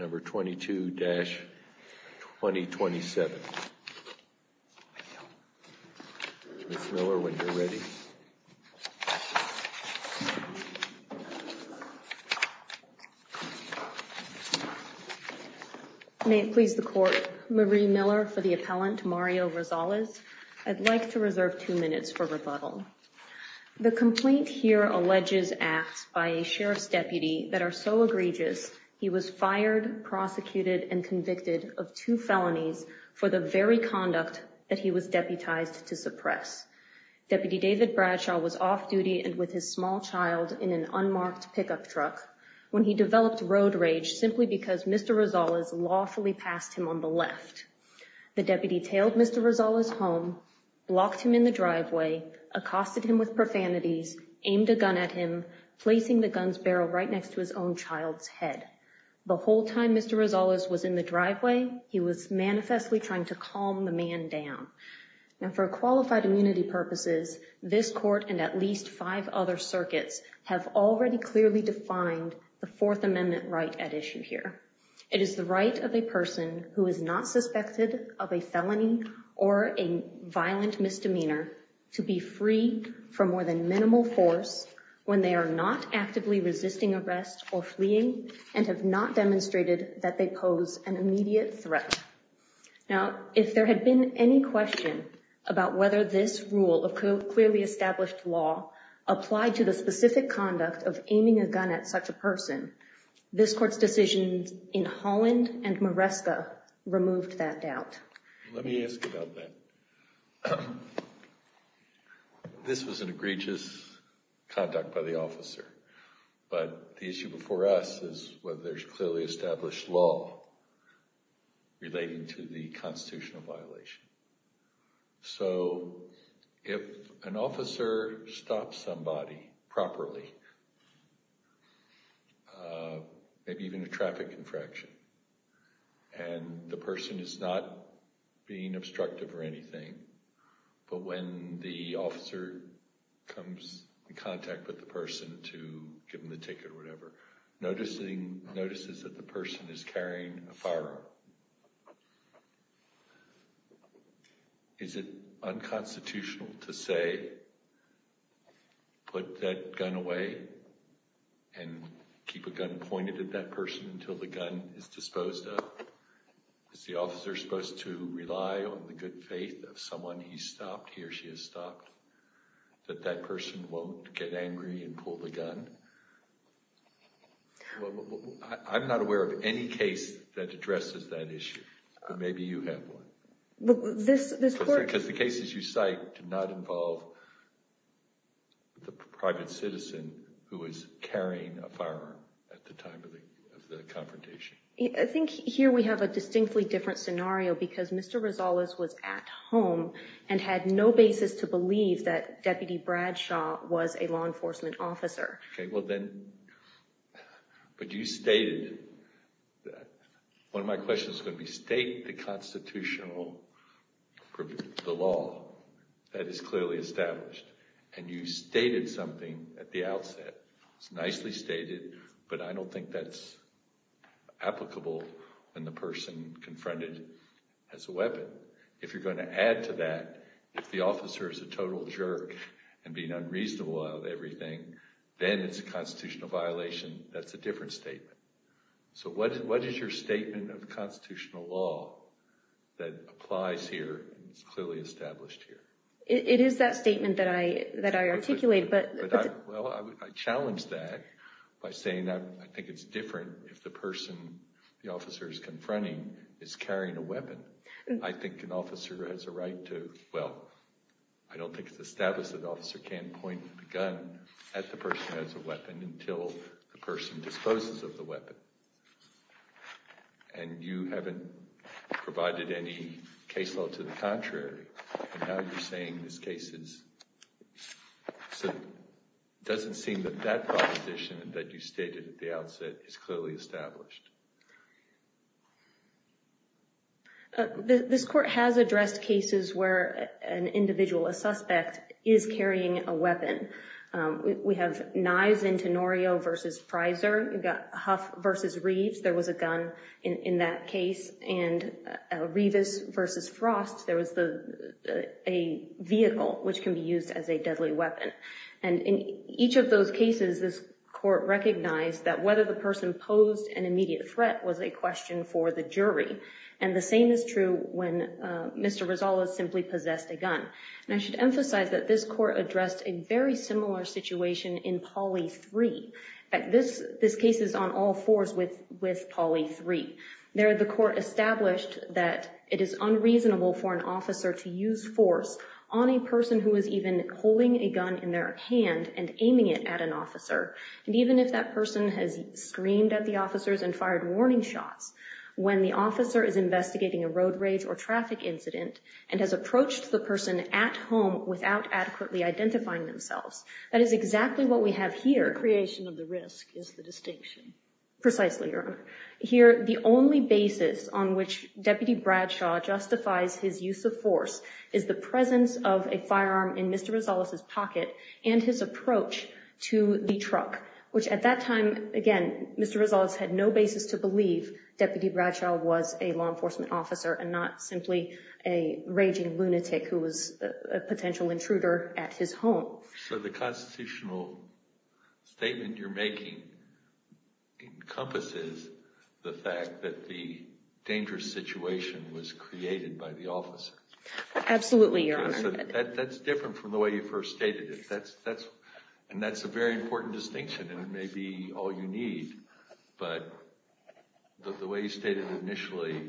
22-2027 Ms. Miller, when you're ready. May it please the court. Marie Miller for the appellant, Mario Rosales. I'd like to reserve two minutes for rebuttal. The complaint here alleges acts by a sheriff's deputy that are so egregious he was fired, prosecuted, and convicted of two felonies for the very conduct that he was deputized to suppress. Deputy David Bradshaw was off duty and with his small child in an unmarked pickup truck when he developed road rage simply because Mr. Rosales lawfully passed him on the left. The deputy tailed Mr. Rosales home, blocked him in the driveway, accosted him with profanities, aimed a gun at him, placing the gun's barrel right next to his own child's head. The whole time Mr. Rosales was in the driveway, he was manifestly trying to calm the man down. And for qualified immunity purposes, this court and at least five other circuits have already clearly defined the Fourth Amendment right at issue here. It is the right of a person who is not suspected of a felony or a violent misdemeanor to be free from more than minimal force when they are not actively resisting arrest or fleeing and have not demonstrated that they pose an immediate threat. Now, if there had been any question about whether this rule of clearly established law applied to the specific conduct of aiming a gun at such a person, this court's decisions in Holland and Maresca removed that doubt. Let me ask about that. This was an egregious conduct by the officer, but the issue before us is whether there's clearly established law relating to the constitutional violation. So if an officer stops somebody properly, maybe even a traffic infraction, and the person is not being obstructive or anything, but when the officer comes in contact with the person to give them the ticket or whatever, notices that the person is carrying a firearm. Is it unconstitutional to say, put that gun away and keep a gun pointed at that person until the gun is disposed of? Is the officer supposed to rely on the good faith of someone he's stopped, he or she has stopped, that that person won't get angry and pull the gun? I'm not aware of any case that addresses that issue, but maybe you have one. Because the cases you cite do not involve the private citizen who is carrying a firearm at the time of the confrontation. I think here we have a distinctly different scenario because Mr. Rosales was at home and had no basis to believe that Deputy Bradshaw was a law enforcement officer. But you stated, one of my questions is going to be state the constitutional, the law that is clearly established. And you stated something at the outset. It's nicely stated, but I don't think that's applicable when the person confronted has a weapon. If you're going to add to that, if the officer is a total jerk and being unreasonable about everything, then it's a constitutional violation. That's a different statement. So what is your statement of constitutional law that applies here and is clearly established here? It is that statement that I articulated. I challenge that by saying I think it's different if the person the officer is confronting is carrying a weapon. I think an officer has a right to, well, I don't think it's established that an officer can point the gun at the person who has a weapon until the person disposes of the weapon. And you haven't provided any case law to the contrary. And now you're saying this case is, so it doesn't seem that that proposition that you stated at the outset is clearly established. This court has addressed cases where an individual, a suspect, is carrying a weapon. We have Nye's and Tenorio v. Fryser. You've got Huff v. Reeves. There was a gun in that case. And Rivas v. Frost, there was a vehicle which can be used as a deadly weapon. And in each of those cases, this court recognized that whether the person posed an immediate threat was a question for the jury. And the same is true when Mr. Rosales simply possessed a gun. And I should emphasize that this court addressed a very similar situation in Polly 3. In fact, this case is on all fours with Polly 3. There, the court established that it is unreasonable for an officer to use force on a person who is even holding a gun in their hand and aiming it at an officer. And even if that person has screamed at the officers and fired warning shots, when the officer is investigating a road rage or traffic incident and has approached the person at home without adequately identifying themselves, that is exactly what we have here. The creation of the risk is the distinction. Precisely, Your Honor. Here, the only basis on which Deputy Bradshaw justifies his use of force is the presence of a firearm in Mr. Rosales' pocket and his approach to the truck, which at that time, again, Mr. Rosales had no basis to believe Deputy Bradshaw was a law enforcement officer and not simply a raging lunatic who was a potential intruder at his home. So the constitutional statement you're making encompasses the fact that the dangerous situation was created by the officer. Absolutely, Your Honor. That's different from the way you first stated it. And that's a very important distinction, and it may be all you need. But the way you stated it initially,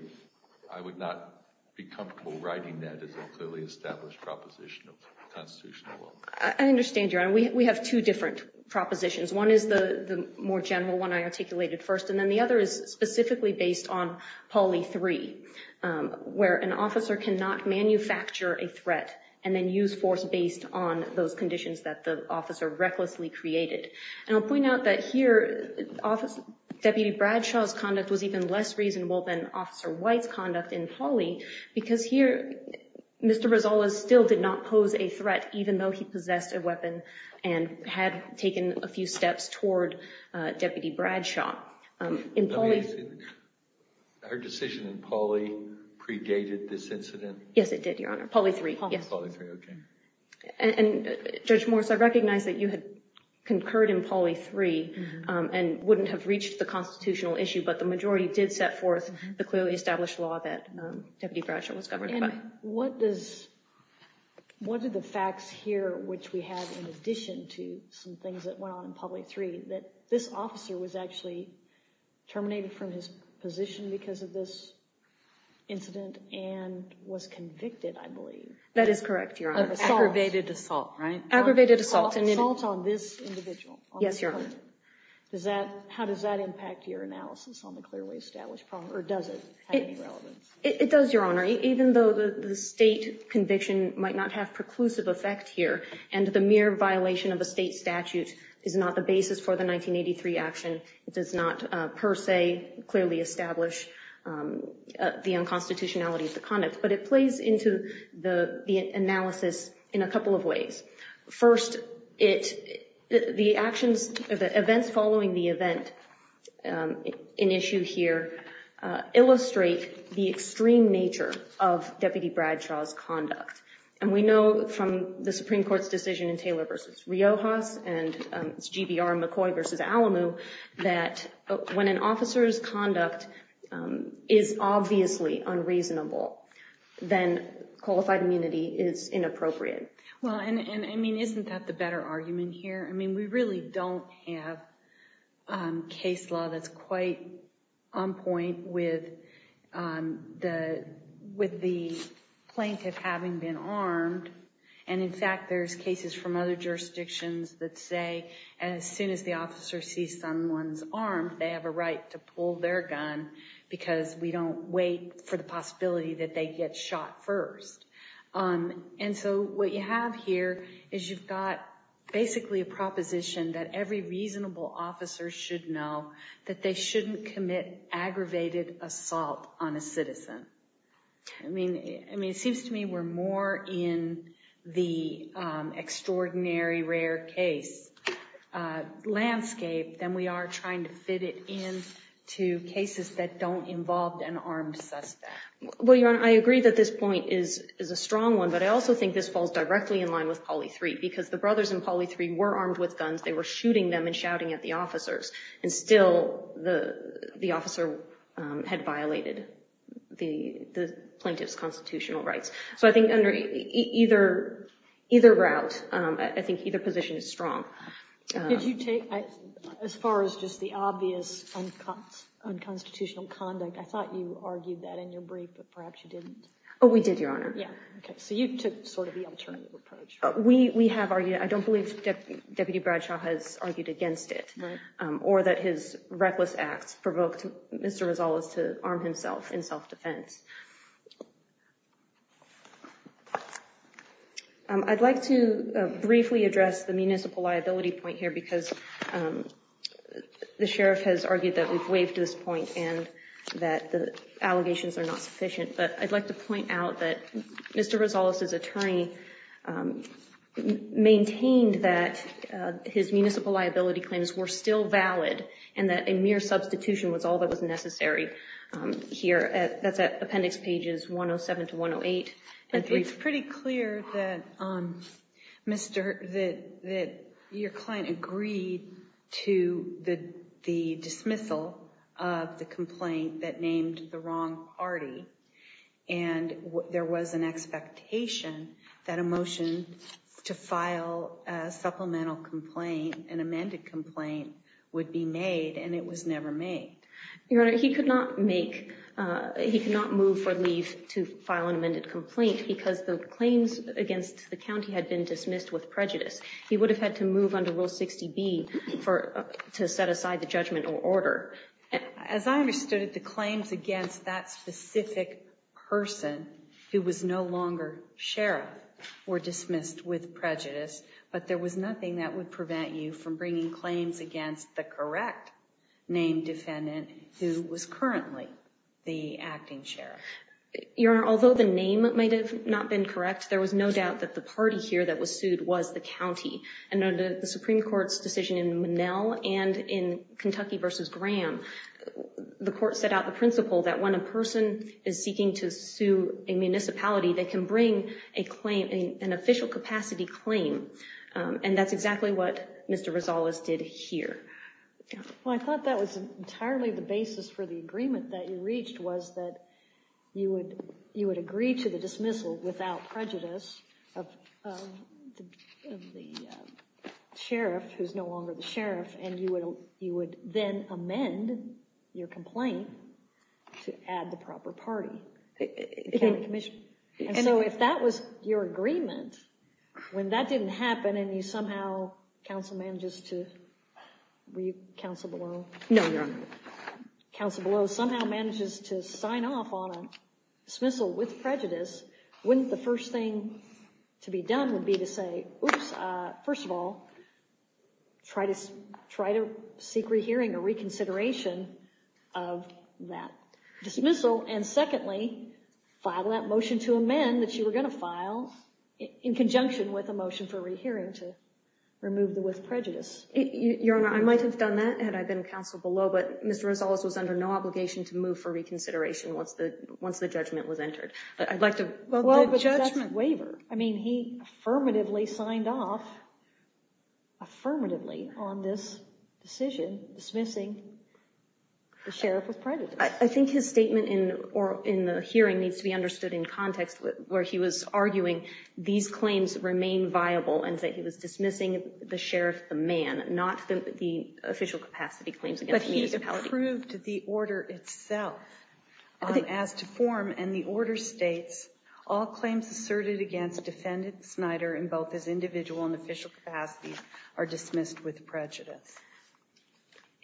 I would not be comfortable writing that as a clearly established proposition of constitutional law. I understand, Your Honor. We have two different propositions. One is the more general one I articulated first, and then the other is specifically based on Pauli 3, where an officer cannot manufacture a threat and then use force based on those conditions that the officer recklessly created. And I'll point out that here Deputy Bradshaw's conduct was even less reasonable than Officer White's conduct in Pauli because here Mr. Rosales still did not pose a threat even though he possessed a weapon and had taken a few steps toward Deputy Bradshaw. Our decision in Pauli predated this incident? Yes, it did, Your Honor. Pauli 3, yes. Pauli 3, okay. And Judge Morris, I recognize that you had concurred in Pauli 3 and wouldn't have reached the constitutional issue, but the majority did set forth the clearly established law that Deputy Bradshaw was governed by. And what do the facts here, which we have in addition to some things that went on in Pauli 3, that this officer was actually terminated from his position because of this incident and was convicted, I believe? That is correct, Your Honor. Aggravated assault, right? Aggravated assault. Assault on this individual. Yes, Your Honor. How does that impact your analysis on the clearly established problem? Or does it have any relevance? It does, Your Honor. Even though the state conviction might not have preclusive effect here and the mere violation of a state statute is not the basis for the 1983 action, it does not per se clearly establish the unconstitutionality of the conduct. But it plays into the analysis in a couple of ways. First, the events following the event in issue here illustrate the extreme nature of Deputy Bradshaw's conduct. And we know from the Supreme Court's decision in Taylor v. Riojas and GBR McCoy v. Alamu that when an officer's conduct is obviously unreasonable, then qualified immunity is inappropriate. Isn't that the better argument here? We really don't have case law that's quite on point with the plaintiff having been armed. And in fact, there's cases from other jurisdictions that say as soon as the officer sees someone's arm, they have a right to pull their gun because we don't wait for the possibility that they get shot first. And so what you have here is you've got basically a proposition that every reasonable officer should know that they shouldn't commit aggravated assault on a citizen. I mean, it seems to me we're more in the extraordinary rare case landscape than we are trying to fit it into cases that don't involve an armed suspect. Well, Your Honor, I agree that this point is a strong one, but I also think this falls directly in line with Polly 3 because the brothers in Polly 3 were armed with guns. They were shooting them and shouting at the officers. And still the officer had violated the plaintiff's constitutional rights. So I think under either route, I think either position is strong. Did you take, as far as just the obvious unconstitutional conduct, I thought you argued that in your brief, but perhaps you didn't. Oh, we did, Your Honor. Yeah. Okay. So you took sort of the alternative approach. We have argued, I don't believe Deputy Bradshaw has argued against it. Right. Or that his reckless acts provoked Mr. Rosales to arm himself in self-defense. I'd like to briefly address the municipal liability point here because the sheriff has argued that we've waived this point and that the allegations are not sufficient. But I'd like to point out that Mr. Rosales' attorney maintained that his municipal liability claims were still valid and that a mere substitution was all that was necessary here. That's at appendix pages 107 to 108. It's pretty clear that your client agreed to the dismissal of the complaint that named the wrong party. And there was an expectation that a motion to file a supplemental complaint, an amended complaint, would be made, and it was never made. Your Honor, he could not move for leave to file an amended complaint because the claims against the county had been dismissed with prejudice. He would have had to move under Rule 60B to set aside the judgmental order. As I understood it, the claims against that specific person who was no longer sheriff were dismissed with prejudice, but there was nothing that would prevent you from bringing claims against the correct named defendant who was currently the acting sheriff. Your Honor, although the name might have not been correct, there was no doubt that the party here that was sued was the county. And under the Supreme Court's decision in Monell and in Kentucky v. Graham, the court set out the principle that when a person is seeking to sue a municipality, they can bring an official capacity claim. And that's exactly what Mr. Rosales did here. Well, I thought that was entirely the basis for the agreement that you reached was that you would agree to the dismissal without prejudice of the sheriff who's no longer the sheriff, and you would then amend your complaint to add the proper party, the county commission. And so if that was your agreement, when that didn't happen and you somehow, counsel manages to, were you counsel below? No, Your Honor. Counsel below somehow manages to sign off on a dismissal with prejudice, wouldn't the first thing to be done would be to say, first of all, try to seek rehearing or reconsideration of that dismissal, and secondly, file that motion to amend that you were going to file in conjunction with a motion for rehearing to remove the with prejudice. Your Honor, I might have done that had I been counsel below, but Mr. Rosales was under no obligation to move for reconsideration once the judgment was entered. But I'd like to... Well, the judgment waiver. I mean, he affirmatively signed off, affirmatively, on this decision dismissing the sheriff with prejudice. I think his statement in the hearing needs to be understood in context where he was arguing these claims remain viable and that he was dismissing the sheriff, the man, not the official capacity claims against the municipality. But he approved the order itself as to form, and the order states, all claims asserted against defendant Snyder in both his individual and official capacity are dismissed with prejudice.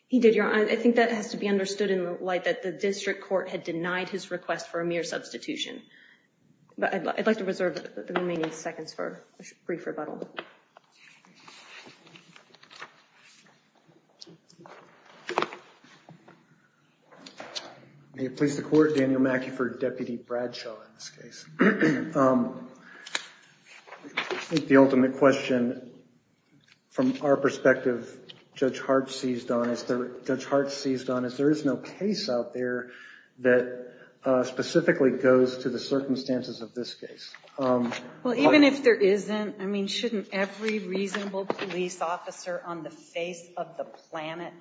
He did, Your Honor. I think that has to be understood in the light that the district court had denied his request for a mere substitution. But I'd like to reserve the remaining seconds for a brief rebuttal. May it please the Court. Daniel MacIver, Deputy Bradshaw in this case. I think the ultimate question from our perspective, Judge Hart seized on is there is no case out there that specifically goes to the circumstances of this case. Well, even if there isn't, I mean, shouldn't every reasonable police officer on the face of the planet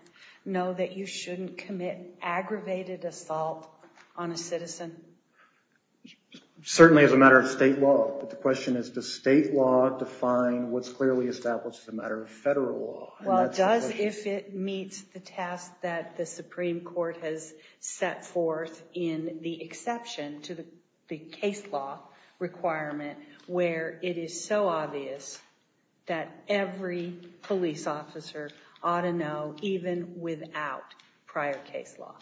know that you shouldn't commit aggravated assault on a citizen? Certainly as a matter of state law. But the question is, does state law define what's clearly established as a matter of federal law? Well, it does if it meets the task that the Supreme Court has set forth in the exception to the case law requirement, where it is so obvious that every police officer ought to know, even without prior case law.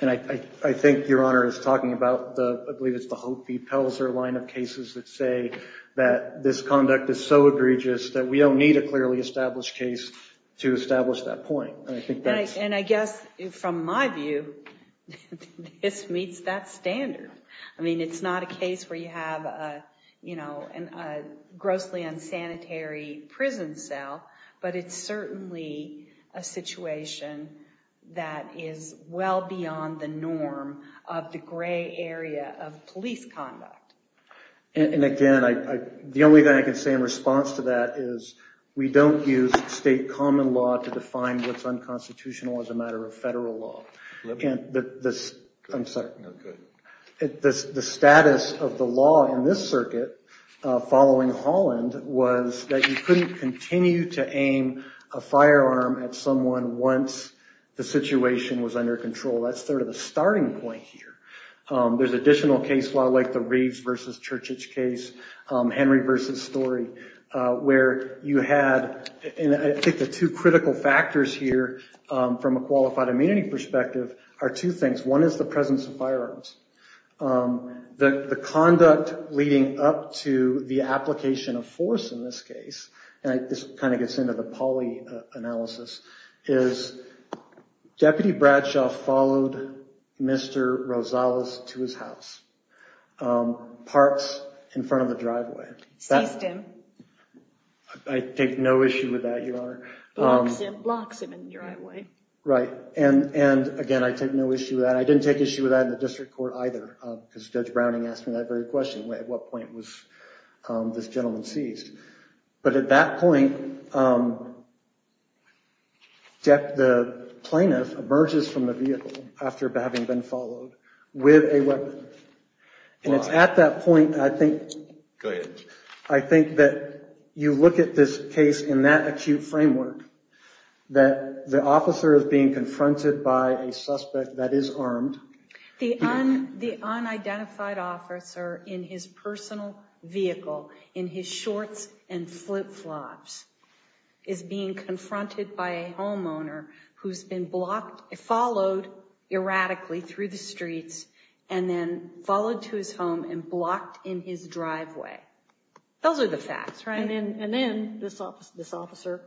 And I think Your Honor is talking about, I believe it's the Hope v. Pelzer line of cases that say that this conduct is so egregious that we don't need a clearly established case to establish that point. And I guess from my view, this meets that standard. I mean, it's not a case where you have a grossly unsanitary prison cell, but it's certainly a situation that is well beyond the norm of the gray area of police conduct. And again, the only thing I can say in response to that is, we don't use state common law to define what's unconstitutional as a matter of federal law. The status of the law in this circuit following Holland was that you couldn't continue to aim a firearm at someone once the situation was under control. That's sort of a starting point here. There's additional case law like the Reeves v. Churchage case, Henry v. Story, where you had, and I think the two critical factors here from a qualified immunity perspective are two things. One is the presence of firearms. The conduct leading up to the application of force in this case, and this kind of gets into the poly analysis, is Deputy Bradshaw followed Mr. Rosales to his house, parked in front of the driveway. Seized him. I take no issue with that, Your Honor. Blocks him in the driveway. Right. And again, I take no issue with that. I didn't take issue with that in the district court either, because Judge Browning asked me that very question, at what point was this gentleman seized. But at that point, the plaintiff emerges from the vehicle, after having been followed, with a weapon. And it's at that point, I think, Go ahead. I think that you look at this case in that acute framework, that the officer is being confronted by a suspect that is armed. The unidentified officer in his personal vehicle, in his shorts and flip flops, is being confronted by a homeowner who's been blocked, followed erratically through the streets, and then followed to his home and blocked in his driveway. Those are the facts, right? And then this officer,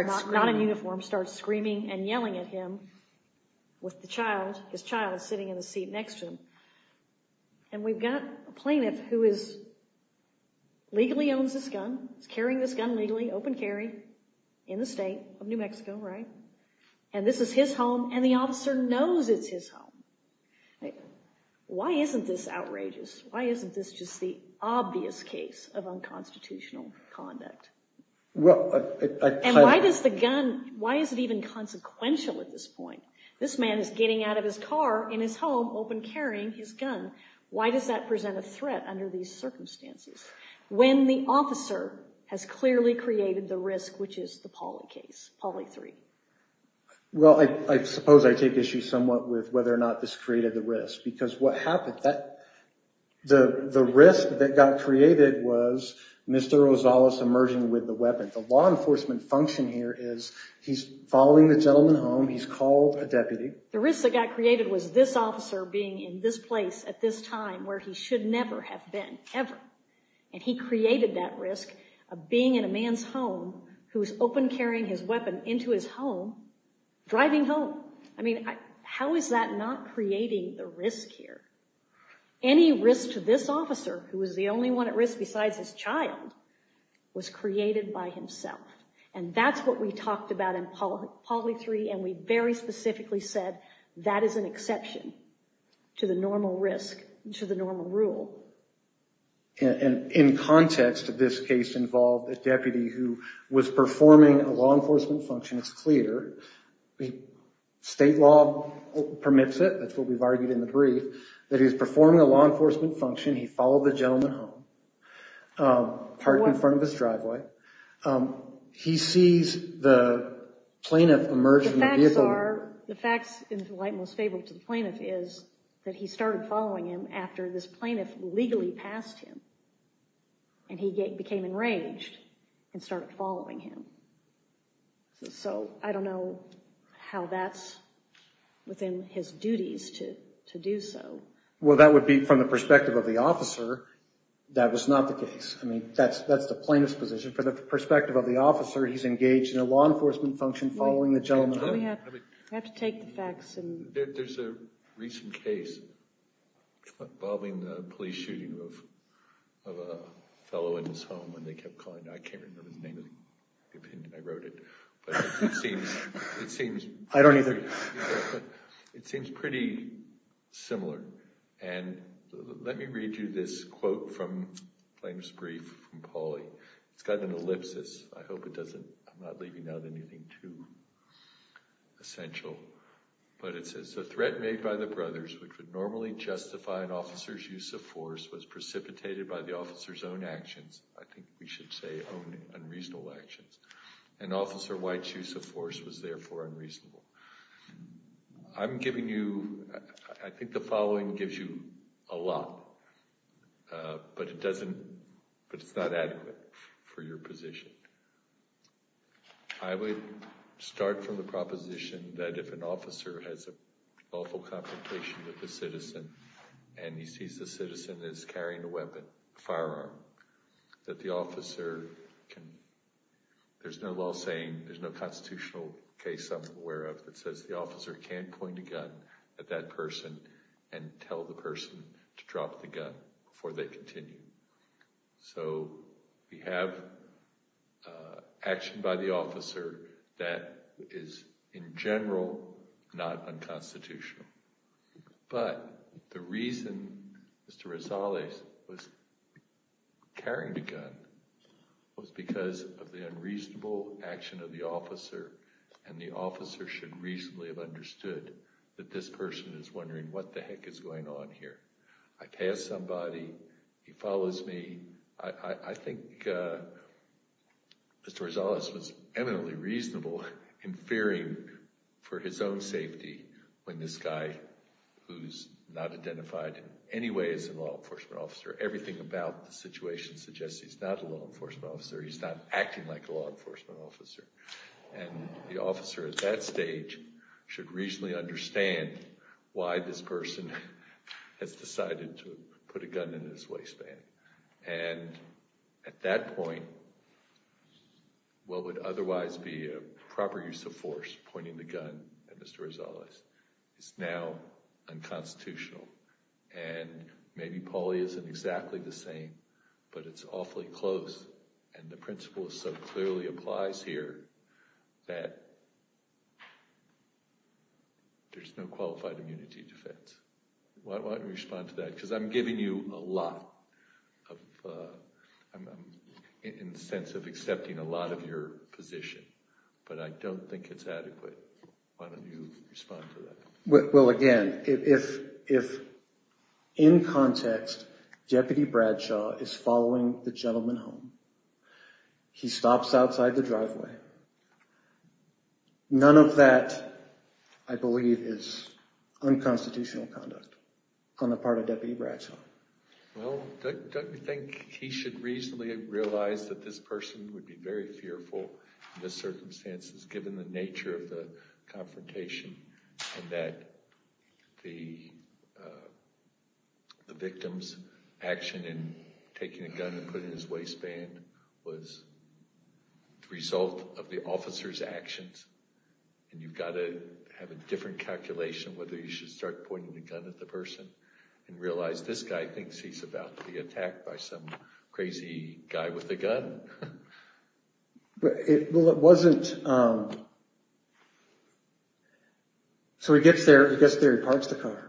not in uniform, starts screaming and yelling at him, with his child sitting in the seat next to him. And we've got a plaintiff who legally owns this gun, is carrying this gun legally, open carry, in the state of New Mexico, right? And this is his home, and the officer knows it's his home. Why isn't this outrageous? Why isn't this just the obvious case of unconstitutional conduct? And why does the gun, why is it even consequential at this point? This man is getting out of his car in his home, open carrying his gun. Why does that present a threat under these circumstances, when the officer has clearly created the risk, which is the Pauli case, Pauli 3? Well, I suppose I take issue somewhat with whether or not this created the risk, because what happened, the risk that got created was Mr. Rosales emerging with the weapon. The law enforcement function here is he's following the gentleman home, he's called a deputy. The risk that got created was this officer being in this place at this time, where he should never have been, ever. And he created that risk of being in a man's home, who was open carrying his weapon into his home, driving home. I mean, how is that not creating the risk here? Any risk to this officer, who was the only one at risk besides his child, was created by himself. And that's what we talked about in Pauli 3, and we very specifically said that is an exception to the normal risk, to the normal rule. And in context, this case involved a deputy, who was performing a law enforcement function. It's clear. State law permits it. That's what we've argued in the brief, that he's performing a law enforcement function. He followed the gentleman home, parked in front of his driveway. He sees the plaintiff emerge from the vehicle. The facts are, the facts, in the light most favorable to the plaintiff, is that he started following him after this plaintiff legally passed him, and he became enraged and started following him. So I don't know how that's within his duties to do so. Well, that would be from the perspective of the officer, that was not the case. I mean, that's the plaintiff's position. From the perspective of the officer, he's engaged in a law enforcement function following the gentleman home. We have to take the facts. There's a recent case involving the police shooting of a fellow in his home, and they kept calling it. I can't remember his name. I wrote it. But it seems pretty similar. And let me read you this quote from the plaintiff's brief from Pauley. It's got an ellipsis. I hope it doesn't – I'm not leaving out anything too essential. But it says, The threat made by the brothers, which would normally justify an officer's use of force, was precipitated by the officer's own actions – I think we should say own unreasonable actions – and Officer White's use of force was therefore unreasonable. I'm giving you – I think the following gives you a lot, but it doesn't – but it's not adequate for your position. I would start from the proposition that if an officer has an awful confrontation with a citizen and he sees the citizen is carrying a weapon, a firearm, that the officer can – there's no law saying, there's no constitutional case I'm aware of that says the officer can point a gun at that person and tell the person to drop the gun before they continue. So we have action by the officer that is, in general, not unconstitutional. But the reason Mr. Rosales was carrying the gun was because of the unreasonable action of the officer, and the officer should reasonably have understood that this person is wondering what the heck is going on here. I pass somebody, he follows me. I think Mr. Rosales was eminently reasonable in fearing for his own safety when this guy, who's not identified in any way as an law enforcement officer, everything about the situation suggests he's not a law enforcement officer, he's not acting like a law enforcement officer. And the officer at that stage should reasonably understand why this person has decided to put a gun in his waistband. And at that point, what would otherwise be a proper use of force, pointing the gun at Mr. Rosales, is now unconstitutional. And maybe Polly isn't exactly the same, but it's awfully close, and the principle so clearly applies here, that there's no qualified immunity defense. Why don't you respond to that? Because I'm giving you a lot in the sense of accepting a lot of your position, but I don't think it's adequate. Why don't you respond to that? Well, again, if, in context, Deputy Bradshaw is following the gentleman home, he stops outside the driveway, none of that, I believe, is unconstitutional conduct on the part of Deputy Bradshaw. Well, don't you think he should reasonably realize that this person would be very fearful in this circumstances, given the nature of the confrontation, and that the victim's action in taking a gun and putting it in his waistband was the result of the officer's actions, and you've got to have a different calculation whether you should start pointing the gun at the person and realize this guy thinks he's about to be attacked by some crazy guy with a gun. Well, it wasn't... So he gets there, he gets there, he parks the car.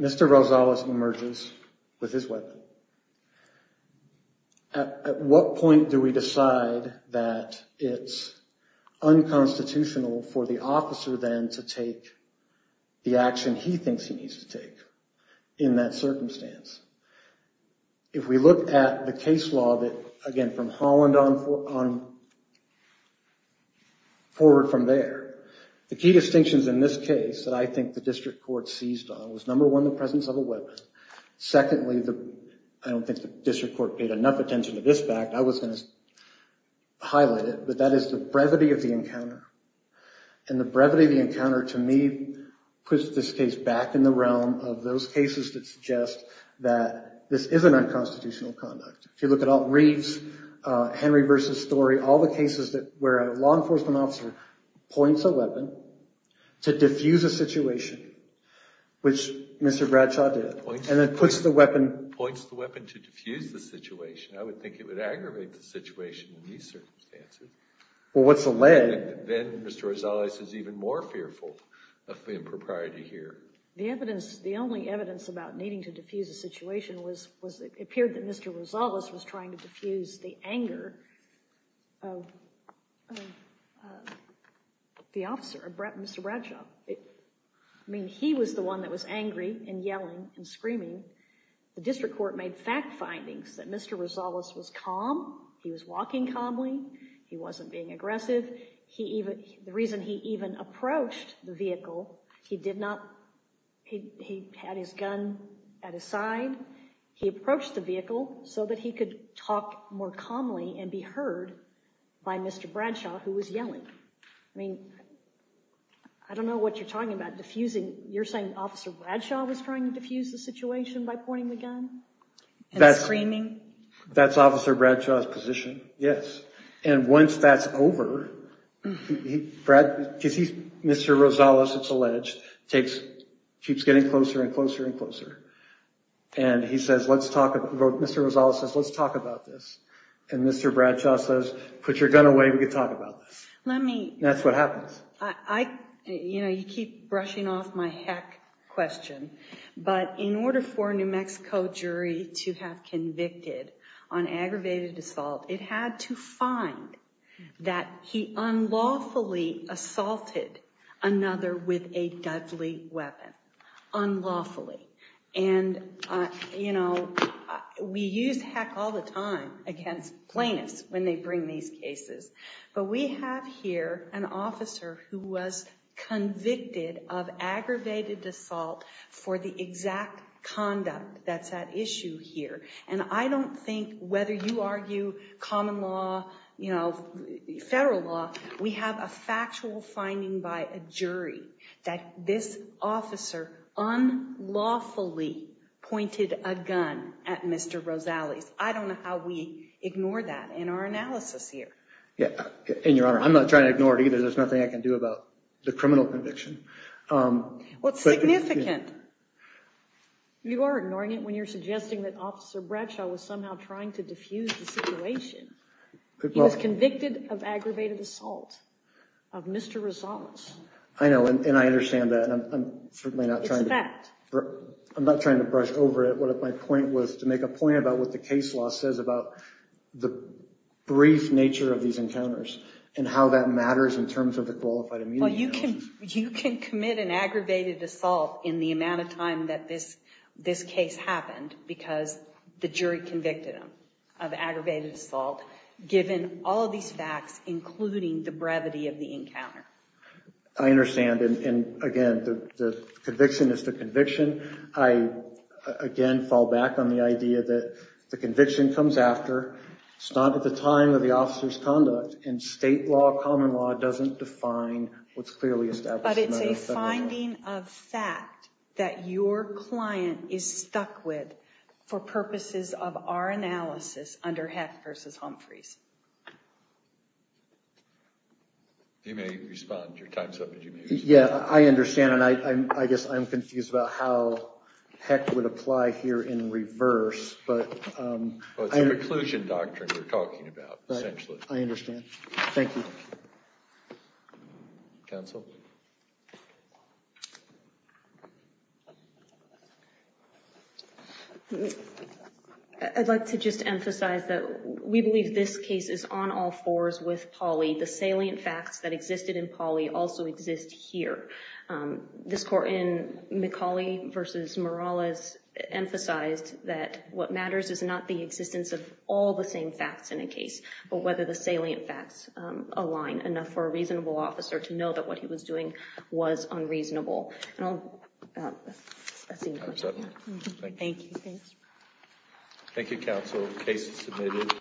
Mr. Rosales emerges with his weapon. At what point do we decide that it's unconstitutional for the officer, then, to take the action he thinks he needs to take in that circumstance? If we look at the case law, again, from Holland forward from there, the key distinctions in this case that I think the district court seized on was, number one, the presence of a weapon. Secondly, I don't think the district court paid enough attention to this fact. I was going to highlight it, but that is the brevity of the encounter, and the brevity of the encounter, to me, puts this case back in the realm of those cases that suggest that this isn't unconstitutional conduct. If you look at Reeves, Henry versus Story, all the cases where a law enforcement officer points a weapon to diffuse a situation, which Mr. Bradshaw did, and then puts the weapon... Points the weapon to diffuse the situation. I would think it would aggravate the situation in these circumstances. Well, what's the lead? Then Mr. Rosales is even more fearful of the impropriety here. The evidence, the only evidence about needing to diffuse a situation was it appeared that Mr. Rosales was trying to diffuse the anger of the officer, Mr. Bradshaw. I mean, he was the one that was angry and yelling and screaming. The district court made fact findings that Mr. Rosales was calm. He was walking calmly. He wasn't being aggressive. The reason he even approached the vehicle, he did not... He had his gun at his side. He approached the vehicle so that he could talk more calmly and be heard by Mr. Bradshaw, who was yelling. I mean, I don't know what you're talking about, diffusing. You're saying Officer Bradshaw was trying to diffuse the situation by pointing the gun and screaming? That's Officer Bradshaw's position, yes. And once that's over, Mr. Rosales, it's alleged, keeps getting closer and closer and closer. And he says, Mr. Rosales says, let's talk about this. And Mr. Bradshaw says, put your gun away, we can talk about this. That's what happens. You know, you keep brushing off my heck question. But in order for a New Mexico jury to have convicted on aggravated assault, it had to find that he unlawfully assaulted another with a deadly weapon. Unlawfully. And, you know, we use heck all the time against plaintiffs when they bring these cases. But we have here an officer who was convicted of aggravated assault for the exact conduct that's at issue here. And I don't think, whether you argue common law, you know, federal law, we have a factual finding by a jury that this officer unlawfully pointed a gun at Mr. Rosales. I don't know how we ignore that in our analysis here. And, Your Honor, I'm not trying to ignore it either. There's nothing I can do about the criminal conviction. Well, it's significant. You are ignoring it when you're suggesting that Officer Bradshaw was somehow trying to diffuse the situation. He was convicted of aggravated assault of Mr. Rosales. I know, and I understand that. It's a fact. I'm not trying to brush over it. My point was to make a point about what the case law says about the brief nature of these encounters and how that matters in terms of the qualified immunity analysis. Well, you can commit an aggravated assault in the amount of time that this case happened because the jury convicted him of aggravated assault given all of these facts, including the brevity of the encounter. I understand. And, again, the conviction is the conviction. I, again, fall back on the idea that the conviction comes after. It's not at the time of the officer's conduct. And state law, common law, doesn't define what's clearly established. But it's a finding of fact that your client is stuck with for purposes of our analysis under Heck v. Humphreys. You may respond. Your time's up. I understand, and I guess I'm confused about how Heck would apply here in reverse. It's a preclusion doctrine we're talking about, essentially. I understand. Thank you. Counsel? I'd like to just emphasize that we believe this case is on all fours with Pauley. The salient facts that existed in Pauley also exist here. This court in McCauley v. Morales emphasized that what matters is not the existence of all the same facts in a case but whether the salient facts align enough for a reasonable officer to know that what he was doing was unreasonable. And I'll see you in court. Time's up. Thank you. Thank you, counsel. Case is submitted.